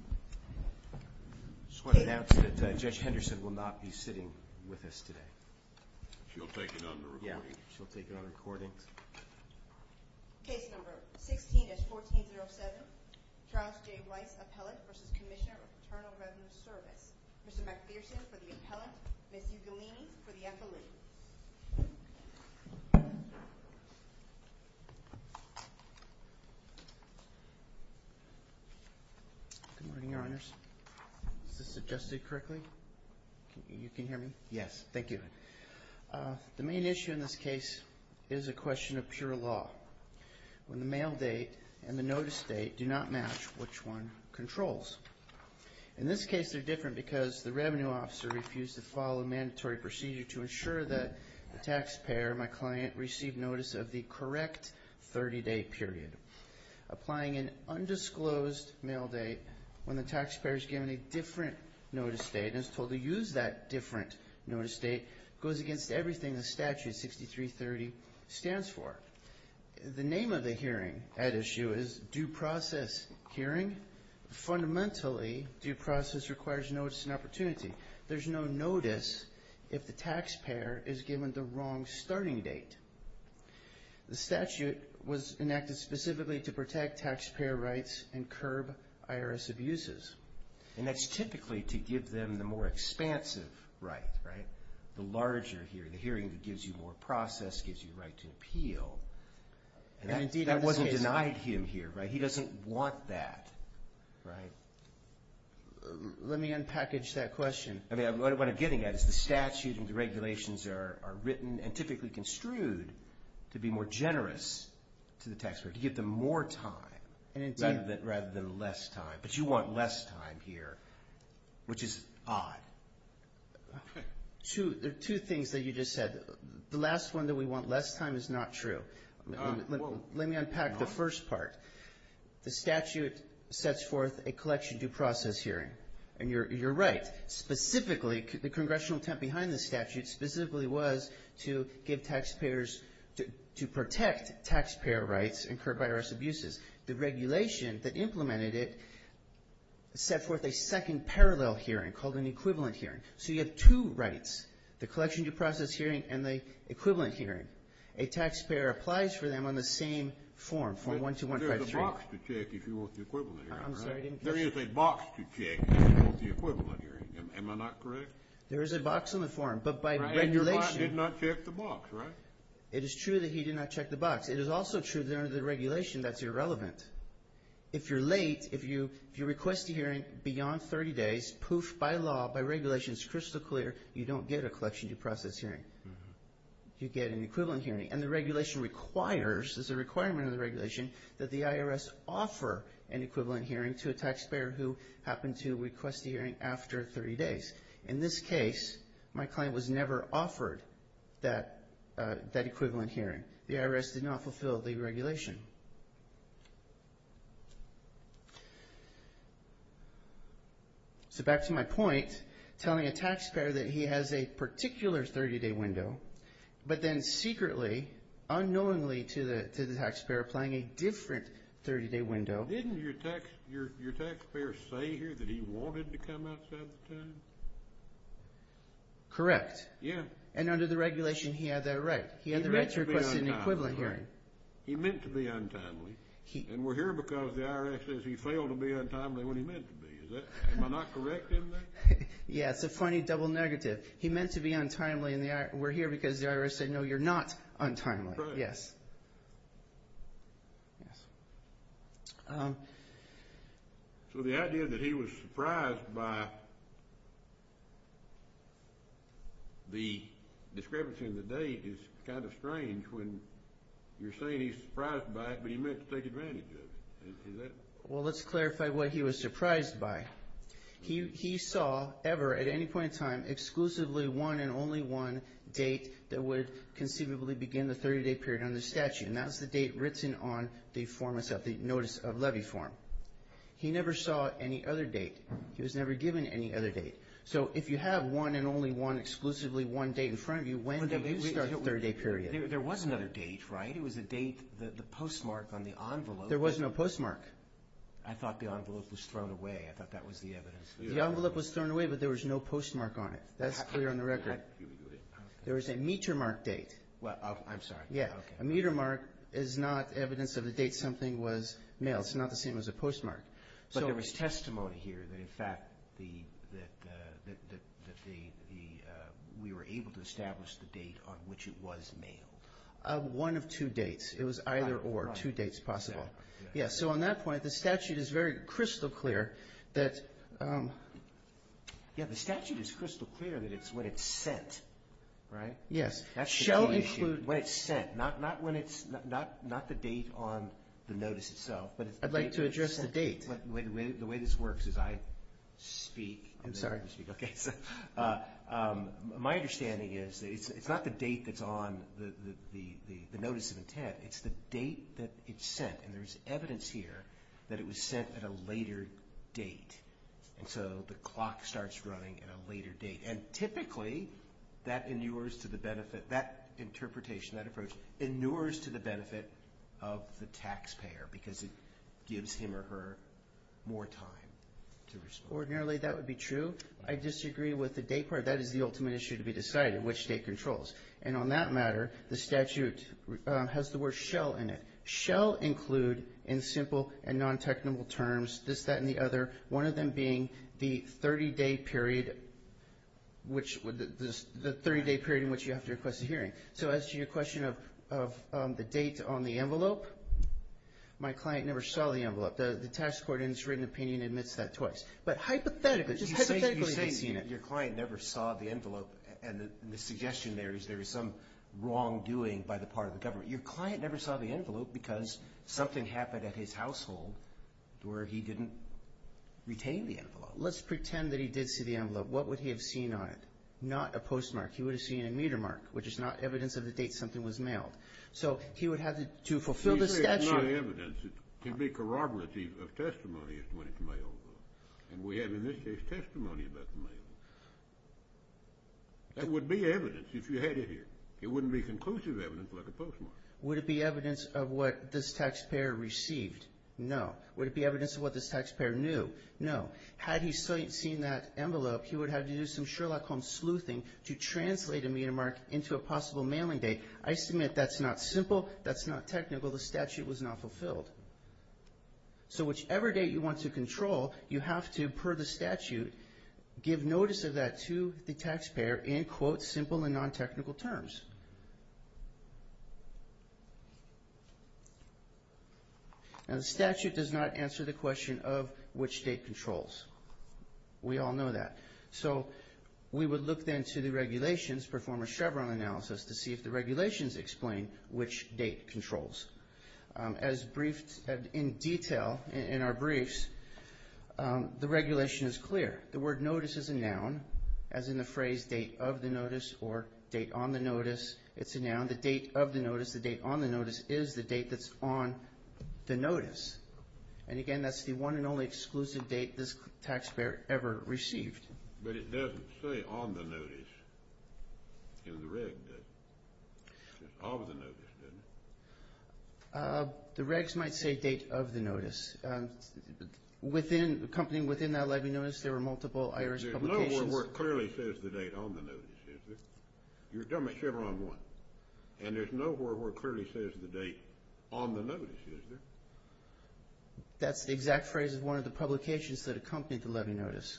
I just want to announce that Judge Henderson will not be sitting with us today. She'll take it on the recording. Yeah, she'll take it on recording. Case number 16-1407, Charles J. Weiss, Appellant v. Commissioner of Paternal Residence Service. Mr. MacPherson for the Appellant, Ms. Ugolini for the Affiliate. Good morning, Your Honors. Is this adjusted correctly? You can hear me? Yes. Thank you. The main issue in this case is a question of pure law, when the mail date and the notice date do not match which one controls. In this case, they're different because the revenue officer refused to follow a mandatory procedure to ensure that the taxpayer, my client, received notice of the correct 30-day period. Applying an undisclosed mail date when the taxpayer is given a different notice date and is told to use that different notice date goes against everything the statute 6330 stands for. The name of the hearing at issue is due process hearing. Fundamentally, due process requires notice and opportunity. There's no notice if the taxpayer is given the wrong starting date. The statute was enacted specifically to protect taxpayer rights and curb IRS abuses. And that's typically to give them the more expansive right, right? The larger hearing, the hearing that gives you more process, gives you the right to appeal. That wasn't denied him here, right? He doesn't want that, right? Let me unpackage that question. I mean, what I'm getting at is the statute and the regulations are written and typically construed to be more generous to the taxpayer, to give them more time rather than less time. But you want less time here, which is odd. There are two things that you just said. The last one that we want less time is not true. Let me unpack the first part. The statute sets forth a collection due process hearing. And you're right. Specifically, the congressional attempt behind the statute specifically was to give taxpayers to protect taxpayer rights and curb IRS abuses. The regulation that implemented it set forth a second parallel hearing called an equivalent hearing. So you have two rights, the collection due process hearing and the equivalent hearing. A taxpayer applies for them on the same form, form 12153. There's a box to check if you want the equivalent hearing, right? I'm sorry, I didn't catch that. There is a box to check if you want the equivalent hearing. Am I not correct? There is a box on the form, but by regulation. And your boss did not check the box, right? It is true that he did not check the box. It is also true that under the regulation that's irrelevant. If you're late, if you request a hearing beyond 30 days, poof, by law, by regulation, it's crystal clear, you don't get a collection due process hearing. You get an equivalent hearing. And the regulation requires, there's a requirement in the regulation, that the IRS offer an equivalent hearing to a taxpayer who happened to request a hearing after 30 days. In this case, my client was never offered that equivalent hearing. The IRS did not fulfill the regulation. So back to my point, telling a taxpayer that he has a particular 30-day window, but then secretly, unknowingly to the taxpayer, applying a different 30-day window. Didn't your taxpayer say here that he wanted to come outside the time? Correct. Yeah. And under the regulation, he had that right. He had the right to request an equivalent hearing. He meant to be untimely. And we're here because the IRS says he failed to be untimely when he meant to be. Am I not correct in that? Yeah, it's a funny double negative. He meant to be untimely, and we're here because the IRS said, no, you're not untimely. That's right. Yes. Yes. So the idea that he was surprised by the discrepancy in the date is kind of strange when you're saying he's surprised by it, but he meant to take advantage of it. Is that? Well, let's clarify what he was surprised by. He saw ever at any point in time exclusively one and only one date that would conceivably begin the 30-day period under the statute, and that's the date written on the form itself, the notice of levy form. He never saw any other date. He was never given any other date. So if you have one and only one, exclusively one date in front of you, when did you start the 30-day period? There was another date, right? It was a date, the postmark on the envelope. There was no postmark. I thought the envelope was thrown away. I thought that was the evidence. The envelope was thrown away, but there was no postmark on it. That's clear on the record. There was a meter mark date. I'm sorry. A meter mark is not evidence of the date something was mailed. It's not the same as a postmark. But there was testimony here that, in fact, we were able to establish the date on which it was mailed. One of two dates. It was either or, two dates possible. So on that point, the statute is very crystal clear. The statute is crystal clear that it's when it's sent, right? Yes. When it's sent, not the date on the notice itself. I'd like to address the date. The way this works is I speak. I'm sorry. It's the date that it's sent. And there's evidence here that it was sent at a later date. And so the clock starts running at a later date. And typically, that inures to the benefit, that interpretation, that approach, inures to the benefit of the taxpayer because it gives him or her more time to respond. Ordinarily, that would be true. I disagree with the date part. That is the ultimate issue to be decided, which state controls. And on that matter, the statute has the word shell in it. Shell include, in simple and non-technical terms, this, that, and the other, one of them being the 30-day period in which you have to request a hearing. So as to your question of the date on the envelope, my client never saw the envelope. The tax court in its written opinion admits that twice. But hypothetically, just hypothetically, they've seen it. But you said your client never saw the envelope, and the suggestion there is there is some wrongdoing by the part of the government. Your client never saw the envelope because something happened at his household where he didn't retain the envelope. Let's pretend that he did see the envelope. What would he have seen on it? Not a postmark. He would have seen a meter mark, which is not evidence of the date something was mailed. So he would have to fulfill the statute. It's not evidence. It can be corroborative of testimony when it's mailed. And we have in this case testimony about the mailing. That would be evidence if you had it here. It wouldn't be conclusive evidence like a postmark. Would it be evidence of what this taxpayer received? No. Would it be evidence of what this taxpayer knew? No. Had he seen that envelope, he would have had to do some Sherlock Holmes sleuthing to translate a meter mark into a possible mailing date. I submit that's not simple. That's not technical. The statute was not fulfilled. So whichever date you want to control, you have to, per the statute, give notice of that to the taxpayer in, quote, simple and non-technical terms. Now the statute does not answer the question of which date controls. We all know that. So we would look then to the regulations, perform a Chevron analysis, to see if the regulations explain which date controls. As briefed in detail in our briefs, the regulation is clear. The word notice is a noun, as in the phrase date of the notice or date on the notice. It's a noun. The date of the notice, the date on the notice, is the date that's on the notice. And, again, that's the one and only exclusive date this taxpayer ever received. But it doesn't say on the notice in the reg, does it? It says of the notice, doesn't it? The regs might say date of the notice. Accompanying within that levy notice, there were multiple IRS publications. There's no word where it clearly says the date on the notice, is there? You're talking about Chevron 1. And there's no word where it clearly says the date on the notice, is there? That's the exact phrase of one of the publications that accompanied the levy notice.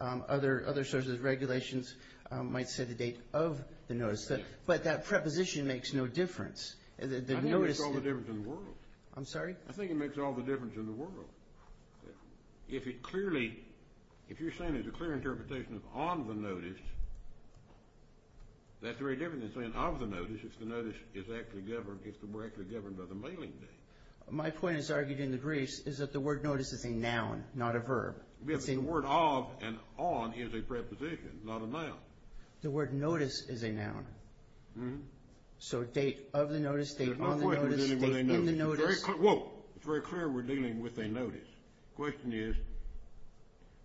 Other sources of regulations might say the date of the notice. But that preposition makes no difference. I think it makes all the difference in the world. I'm sorry? I think it makes all the difference in the world. If you're saying there's a clear interpretation of on the notice, that's very different than saying of the notice, if the notice is actually governed by the mailing date. My point is argued in the briefs is that the word notice is a noun, not a verb. The word of and on is a preposition, not a noun. The word notice is a noun. So date of the notice, date on the notice, date in the notice. It's very clear we're dealing with a notice. The question is,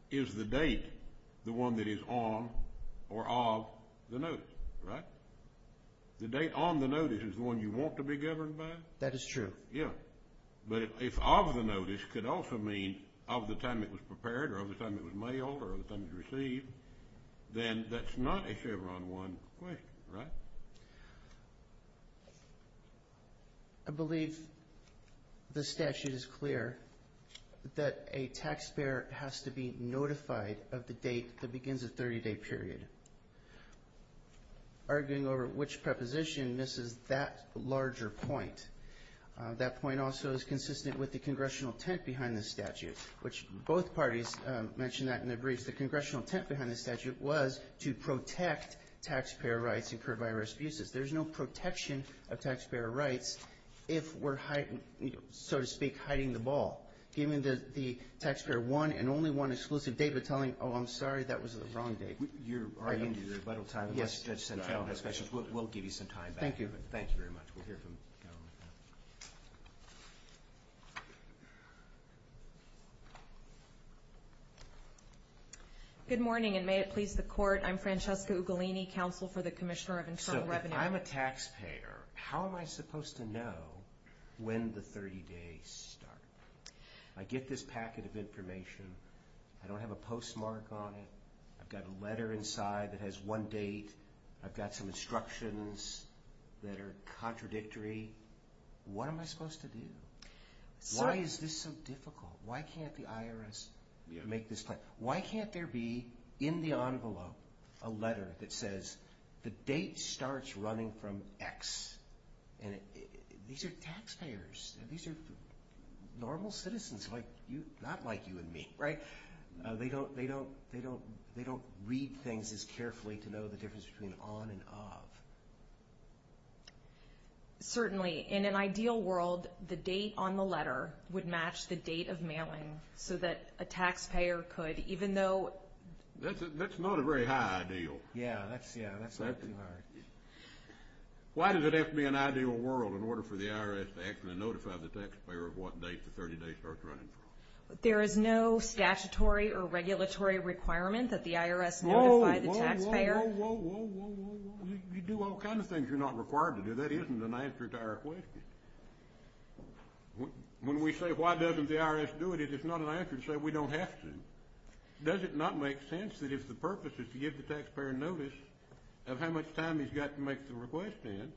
is the date the one that is on or of the notice, right? The date on the notice is the one you want to be governed by? That is true. Yeah. But if of the notice could also mean of the time it was prepared or of the time it was mailed or of the time it was received, then that's not a favor on one question, right? I believe the statute is clear that a taxpayer has to be notified of the date that begins a 30-day period. Arguing over which preposition misses that larger point. That point also is consistent with the congressional tent behind the statute, which both parties mentioned that in their briefs. The congressional tent behind the statute was to protect taxpayer rights incurred by arrest abuses. There's no protection of taxpayer rights if we're, so to speak, hiding the ball. Given that the taxpayer won and only won exclusive data telling, oh, I'm sorry, that was the wrong date. You're already into the rebuttal time. Yes. We'll give you some time back. Thank you. Thank you very much. We'll hear from the government now. Good morning, and may it please the court. I'm Francesca Ugolini, Counsel for the Commissioner of Internal Revenue. So if I'm a taxpayer, how am I supposed to know when the 30 days start? I get this packet of information. I don't have a postmark on it. I've got a letter inside that has one date. I've got some instructions that are contradictory. What am I supposed to do? Why is this so difficult? Why can't the IRS make this plan? Why can't there be in the envelope a letter that says the date starts running from X? These are taxpayers. These are normal citizens, not like you and me, right? They don't read things as carefully to know the difference between on and off. Certainly. In an ideal world, the date on the letter would match the date of mailing so that a taxpayer could, even though. That's not a very high ideal. Yeah, that's too high. Why does it have to be an ideal world in order for the IRS to actually notify the taxpayer of what date the 30 days start running from? There is no statutory or regulatory requirement that the IRS notify the taxpayer. Whoa, whoa, whoa, whoa. You do all kinds of things you're not required to do. That isn't an answer to our question. When we say why doesn't the IRS do it, it is not an answer to say we don't have to. Does it not make sense that if the purpose is to give the taxpayer notice of how much time he's got to make the request in,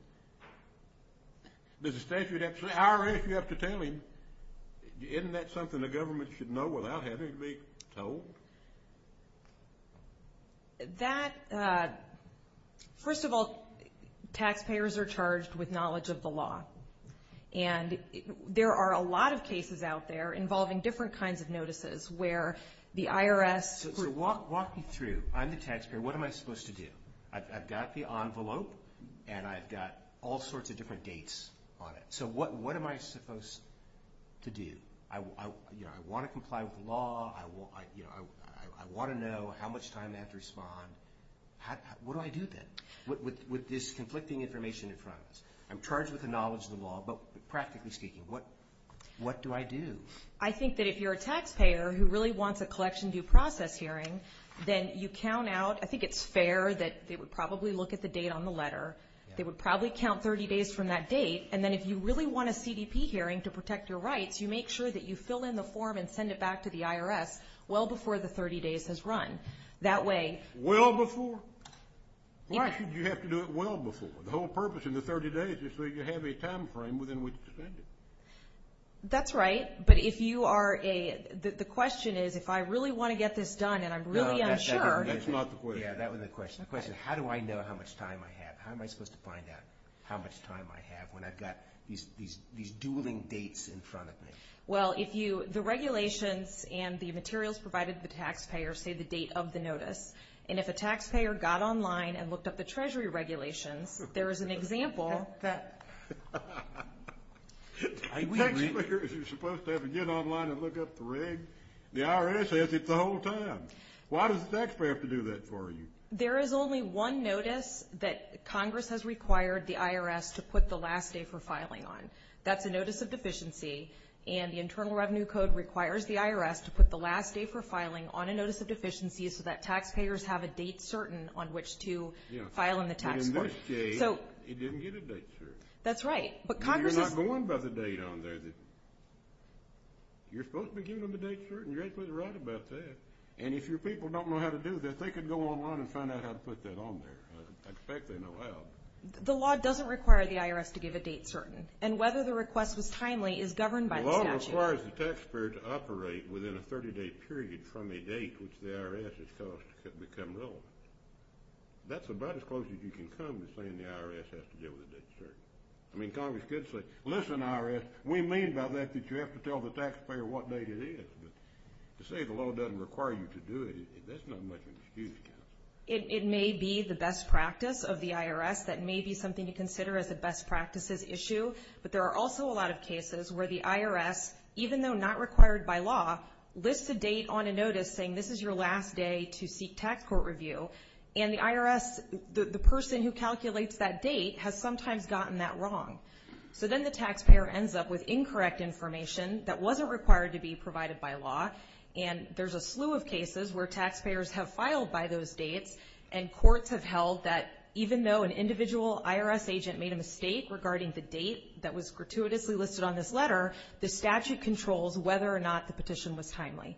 the IRS would have to tell him? Isn't that something the government should know without having to be told? That, first of all, taxpayers are charged with knowledge of the law. And there are a lot of cases out there involving different kinds of notices where the IRS. Walk me through. I'm the taxpayer. What am I supposed to do? I've got the envelope, and I've got all sorts of different dates on it. So what am I supposed to do? I want to comply with the law. I want to know how much time they have to respond. What do I do then with this conflicting information in front of us? I'm charged with the knowledge of the law, but practically speaking, what do I do? I think that if you're a taxpayer who really wants a collection due process hearing, then you count out. I think it's fair that they would probably look at the date on the letter. They would probably count 30 days from that date. And then if you really want a CDP hearing to protect your rights, you make sure that you fill in the form and send it back to the IRS well before the 30 days has run. That way. Well before? Why should you have to do it well before? The whole purpose in the 30 days is so you have a time frame within which to send it. That's right. But if you are a – the question is if I really want to get this done and I'm really unsure. No, that's not the point. Yeah, that was the question. The question is how do I know how much time I have? How am I supposed to find out how much time I have when I've got these dueling dates in front of me? Well, if you – the regulations and the materials provided to the taxpayer say the date of the notice, and if a taxpayer got online and looked up the Treasury regulations, there is an example that – A taxpayer is supposed to have to get online and look up the regs. The IRS has it the whole time. Why does the taxpayer have to do that for you? There is only one notice that Congress has required the IRS to put the last day for filing on. That's a notice of deficiency, and the Internal Revenue Code requires the IRS to put the last day for filing on a notice of deficiency so that taxpayers have a date certain on which to file in the tax court. But in this case, it didn't get a date certain. That's right. But Congress is – You're not going by the date on there. You're supposed to be giving them the date certain. You're absolutely right about that. And if your people don't know how to do that, they could go online and find out how to put that on there. I expect they know how. The law doesn't require the IRS to give a date certain, and whether the request was timely is governed by the statute. The law requires the taxpayer to operate within a 30-day period from a date which the IRS has called to become relevant. That's about as close as you can come to saying the IRS has to deal with a date certain. I mean, Congress could say, listen, IRS, we mean by that that you have to tell the taxpayer what date it is. But to say the law doesn't require you to do it, that's not much of an excuse. It may be the best practice of the IRS. That may be something to consider as a best practices issue. But there are also a lot of cases where the IRS, even though not required by law, lists a date on a notice saying this is your last day to seek tax court review. And the IRS, the person who calculates that date, has sometimes gotten that wrong. So then the taxpayer ends up with incorrect information that wasn't required to be provided by law. And there's a slew of cases where taxpayers have filed by those dates, and courts have held that even though an individual IRS agent made a mistake regarding the date that was gratuitously listed on this letter, the statute controls whether or not the petition was timely.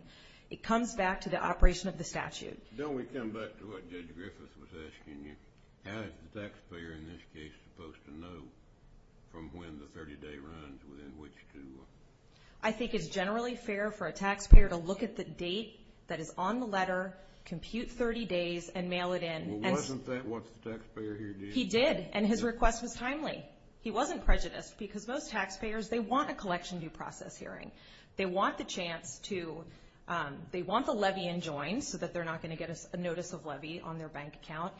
It comes back to the operation of the statute. Don't we come back to what Judge Griffith was asking you? How is the taxpayer in this case supposed to know from when the 30-day runs within which to? I think it's generally fair for a taxpayer to look at the date that is on the letter, compute 30 days, and mail it in. Well, wasn't that what the taxpayer here did? He did, and his request was timely. He wasn't prejudiced because most taxpayers, they want a collection due process hearing. They want the chance to – they want the levy enjoined so that they're not going to get a notice of levy on their bank account.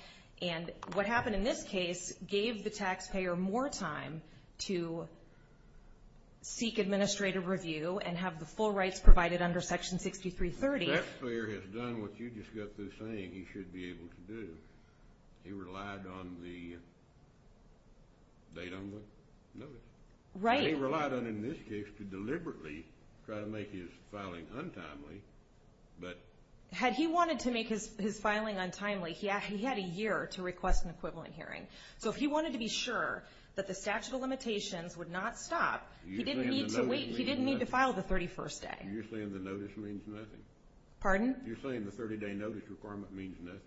And what happened in this case gave the taxpayer more time to seek administrative review and have the full rights provided under Section 6330. The taxpayer has done what you just got through saying he should be able to do. He relied on the date on the notice. Right. And he relied on, in this case, to deliberately try to make his filing untimely. Had he wanted to make his filing untimely, he had a year to request an equivalent hearing. So if he wanted to be sure that the statute of limitations would not stop, he didn't need to file the 31st day. You're saying the notice means nothing? Pardon? You're saying the 30-day notice requirement means nothing?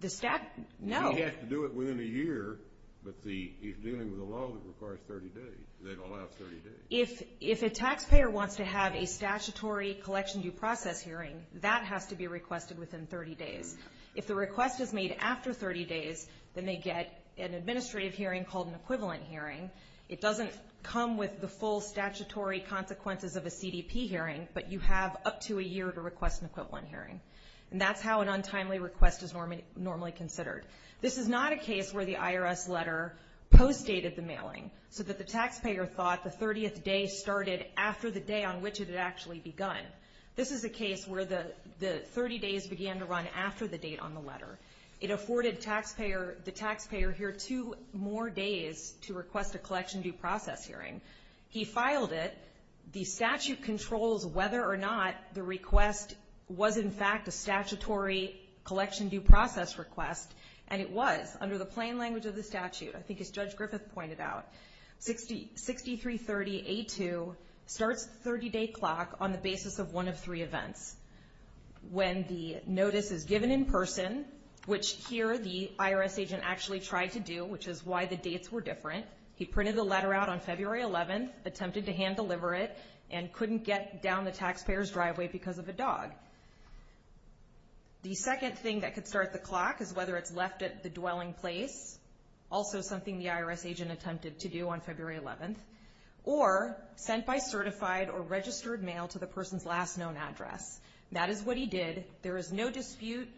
The statute – no. He has to do it within a year, but he's dealing with a law that requires 30 days. They don't allow 30 days. If a taxpayer wants to have a statutory collection due process hearing, that has to be requested within 30 days. If the request is made after 30 days, then they get an administrative hearing called an equivalent hearing. It doesn't come with the full statutory consequences of a CDP hearing, but you have up to a year to request an equivalent hearing. And that's how an untimely request is normally considered. This is not a case where the IRS letter postdated the mailing so that the taxpayer thought the 30th day started after the day on which it had actually begun. This is a case where the 30 days began to run after the date on the letter. It afforded the taxpayer here two more days to request a collection due process hearing. He filed it. The statute controls whether or not the request was, in fact, a statutory collection due process request, and it was under the plain language of the statute, I think as Judge Griffith pointed out. 6330A2 starts the 30-day clock on the basis of one of three events. When the notice is given in person, which here the IRS agent actually tried to do, which is why the dates were different. He printed the letter out on February 11th, attempted to hand deliver it, and couldn't get down the taxpayer's driveway because of a dog. The second thing that could start the clock is whether it's left at the dwelling place, also something the IRS agent attempted to do on February 11th, or sent by certified or registered mail to the person's last known address. That is what he did. There is no dispute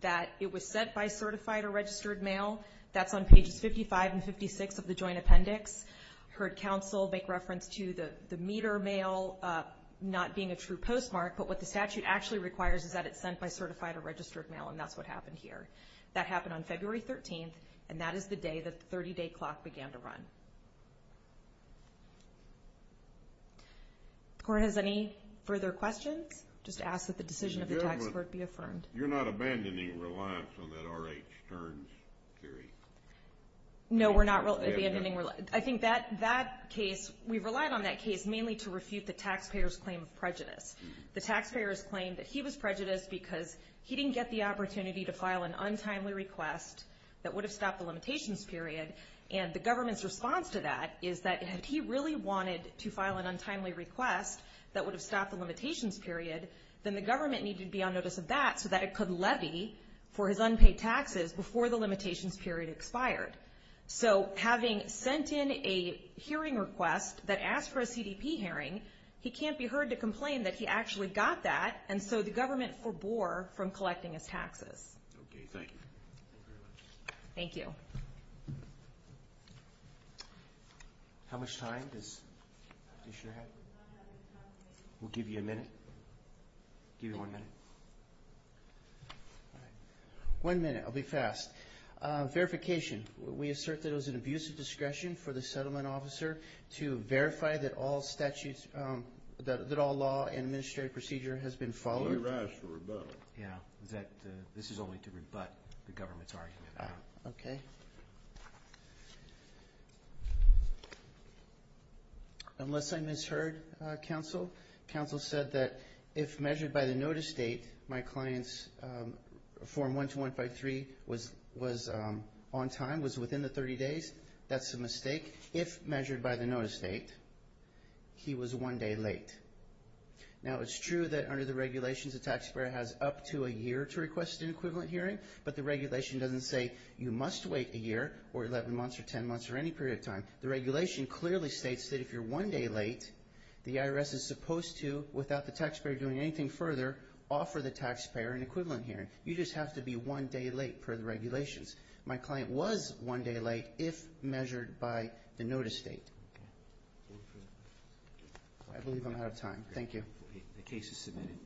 that it was sent by certified or registered mail. That's on pages 55 and 56 of the joint appendix. I heard counsel make reference to the meter mail not being a true postmark, but what the statute actually requires is that it's sent by certified or registered mail, and that's what happened here. That happened on February 13th, and that is the day that the 30-day clock began to run. If the Court has any further questions, just ask that the decision of the taxpayer be affirmed. You're not abandoning reliance on that RH turns period? No, we're not abandoning reliance. I think that case, we relied on that case mainly to refute the taxpayer's claim of prejudice. The taxpayer's claim that he was prejudiced because he didn't get the opportunity to file an untimely request that would have stopped the limitations period, and the government's response to that is that if he really wanted to file an untimely request that would have stopped the limitations period, then the government needed to be on notice of that so that it could levy for his unpaid taxes before the limitations period expired. So having sent in a hearing request that asked for a CDP hearing, he can't be heard to complain that he actually got that, and so the government forbore from collecting his taxes. Okay, thank you. Thank you. How much time does the commissioner have? We'll give you a minute. Give you one minute. All right. One minute. I'll be fast. Verification. We assert that it was an abuse of discretion for the settlement officer to verify that all statutes, that all law and administrative procedure has been followed. He asked for rebuttal. Yeah, that this is only to rebut the government's argument. Okay. Thank you. Unless I misheard, Counsel, Counsel said that if measured by the notice date, my client's Form 12153 was on time, was within the 30 days. That's a mistake. If measured by the notice date, he was one day late. Now, it's true that under the regulations a taxpayer has up to a year to request an equivalent hearing, but the regulation doesn't say you must wait a year or 11 months or 10 months or any period of time. The regulation clearly states that if you're one day late, the IRS is supposed to, without the taxpayer doing anything further, offer the taxpayer an equivalent hearing. You just have to be one day late per the regulations. My client was one day late if measured by the notice date. I believe I'm out of time. Thank you. The case is submitted.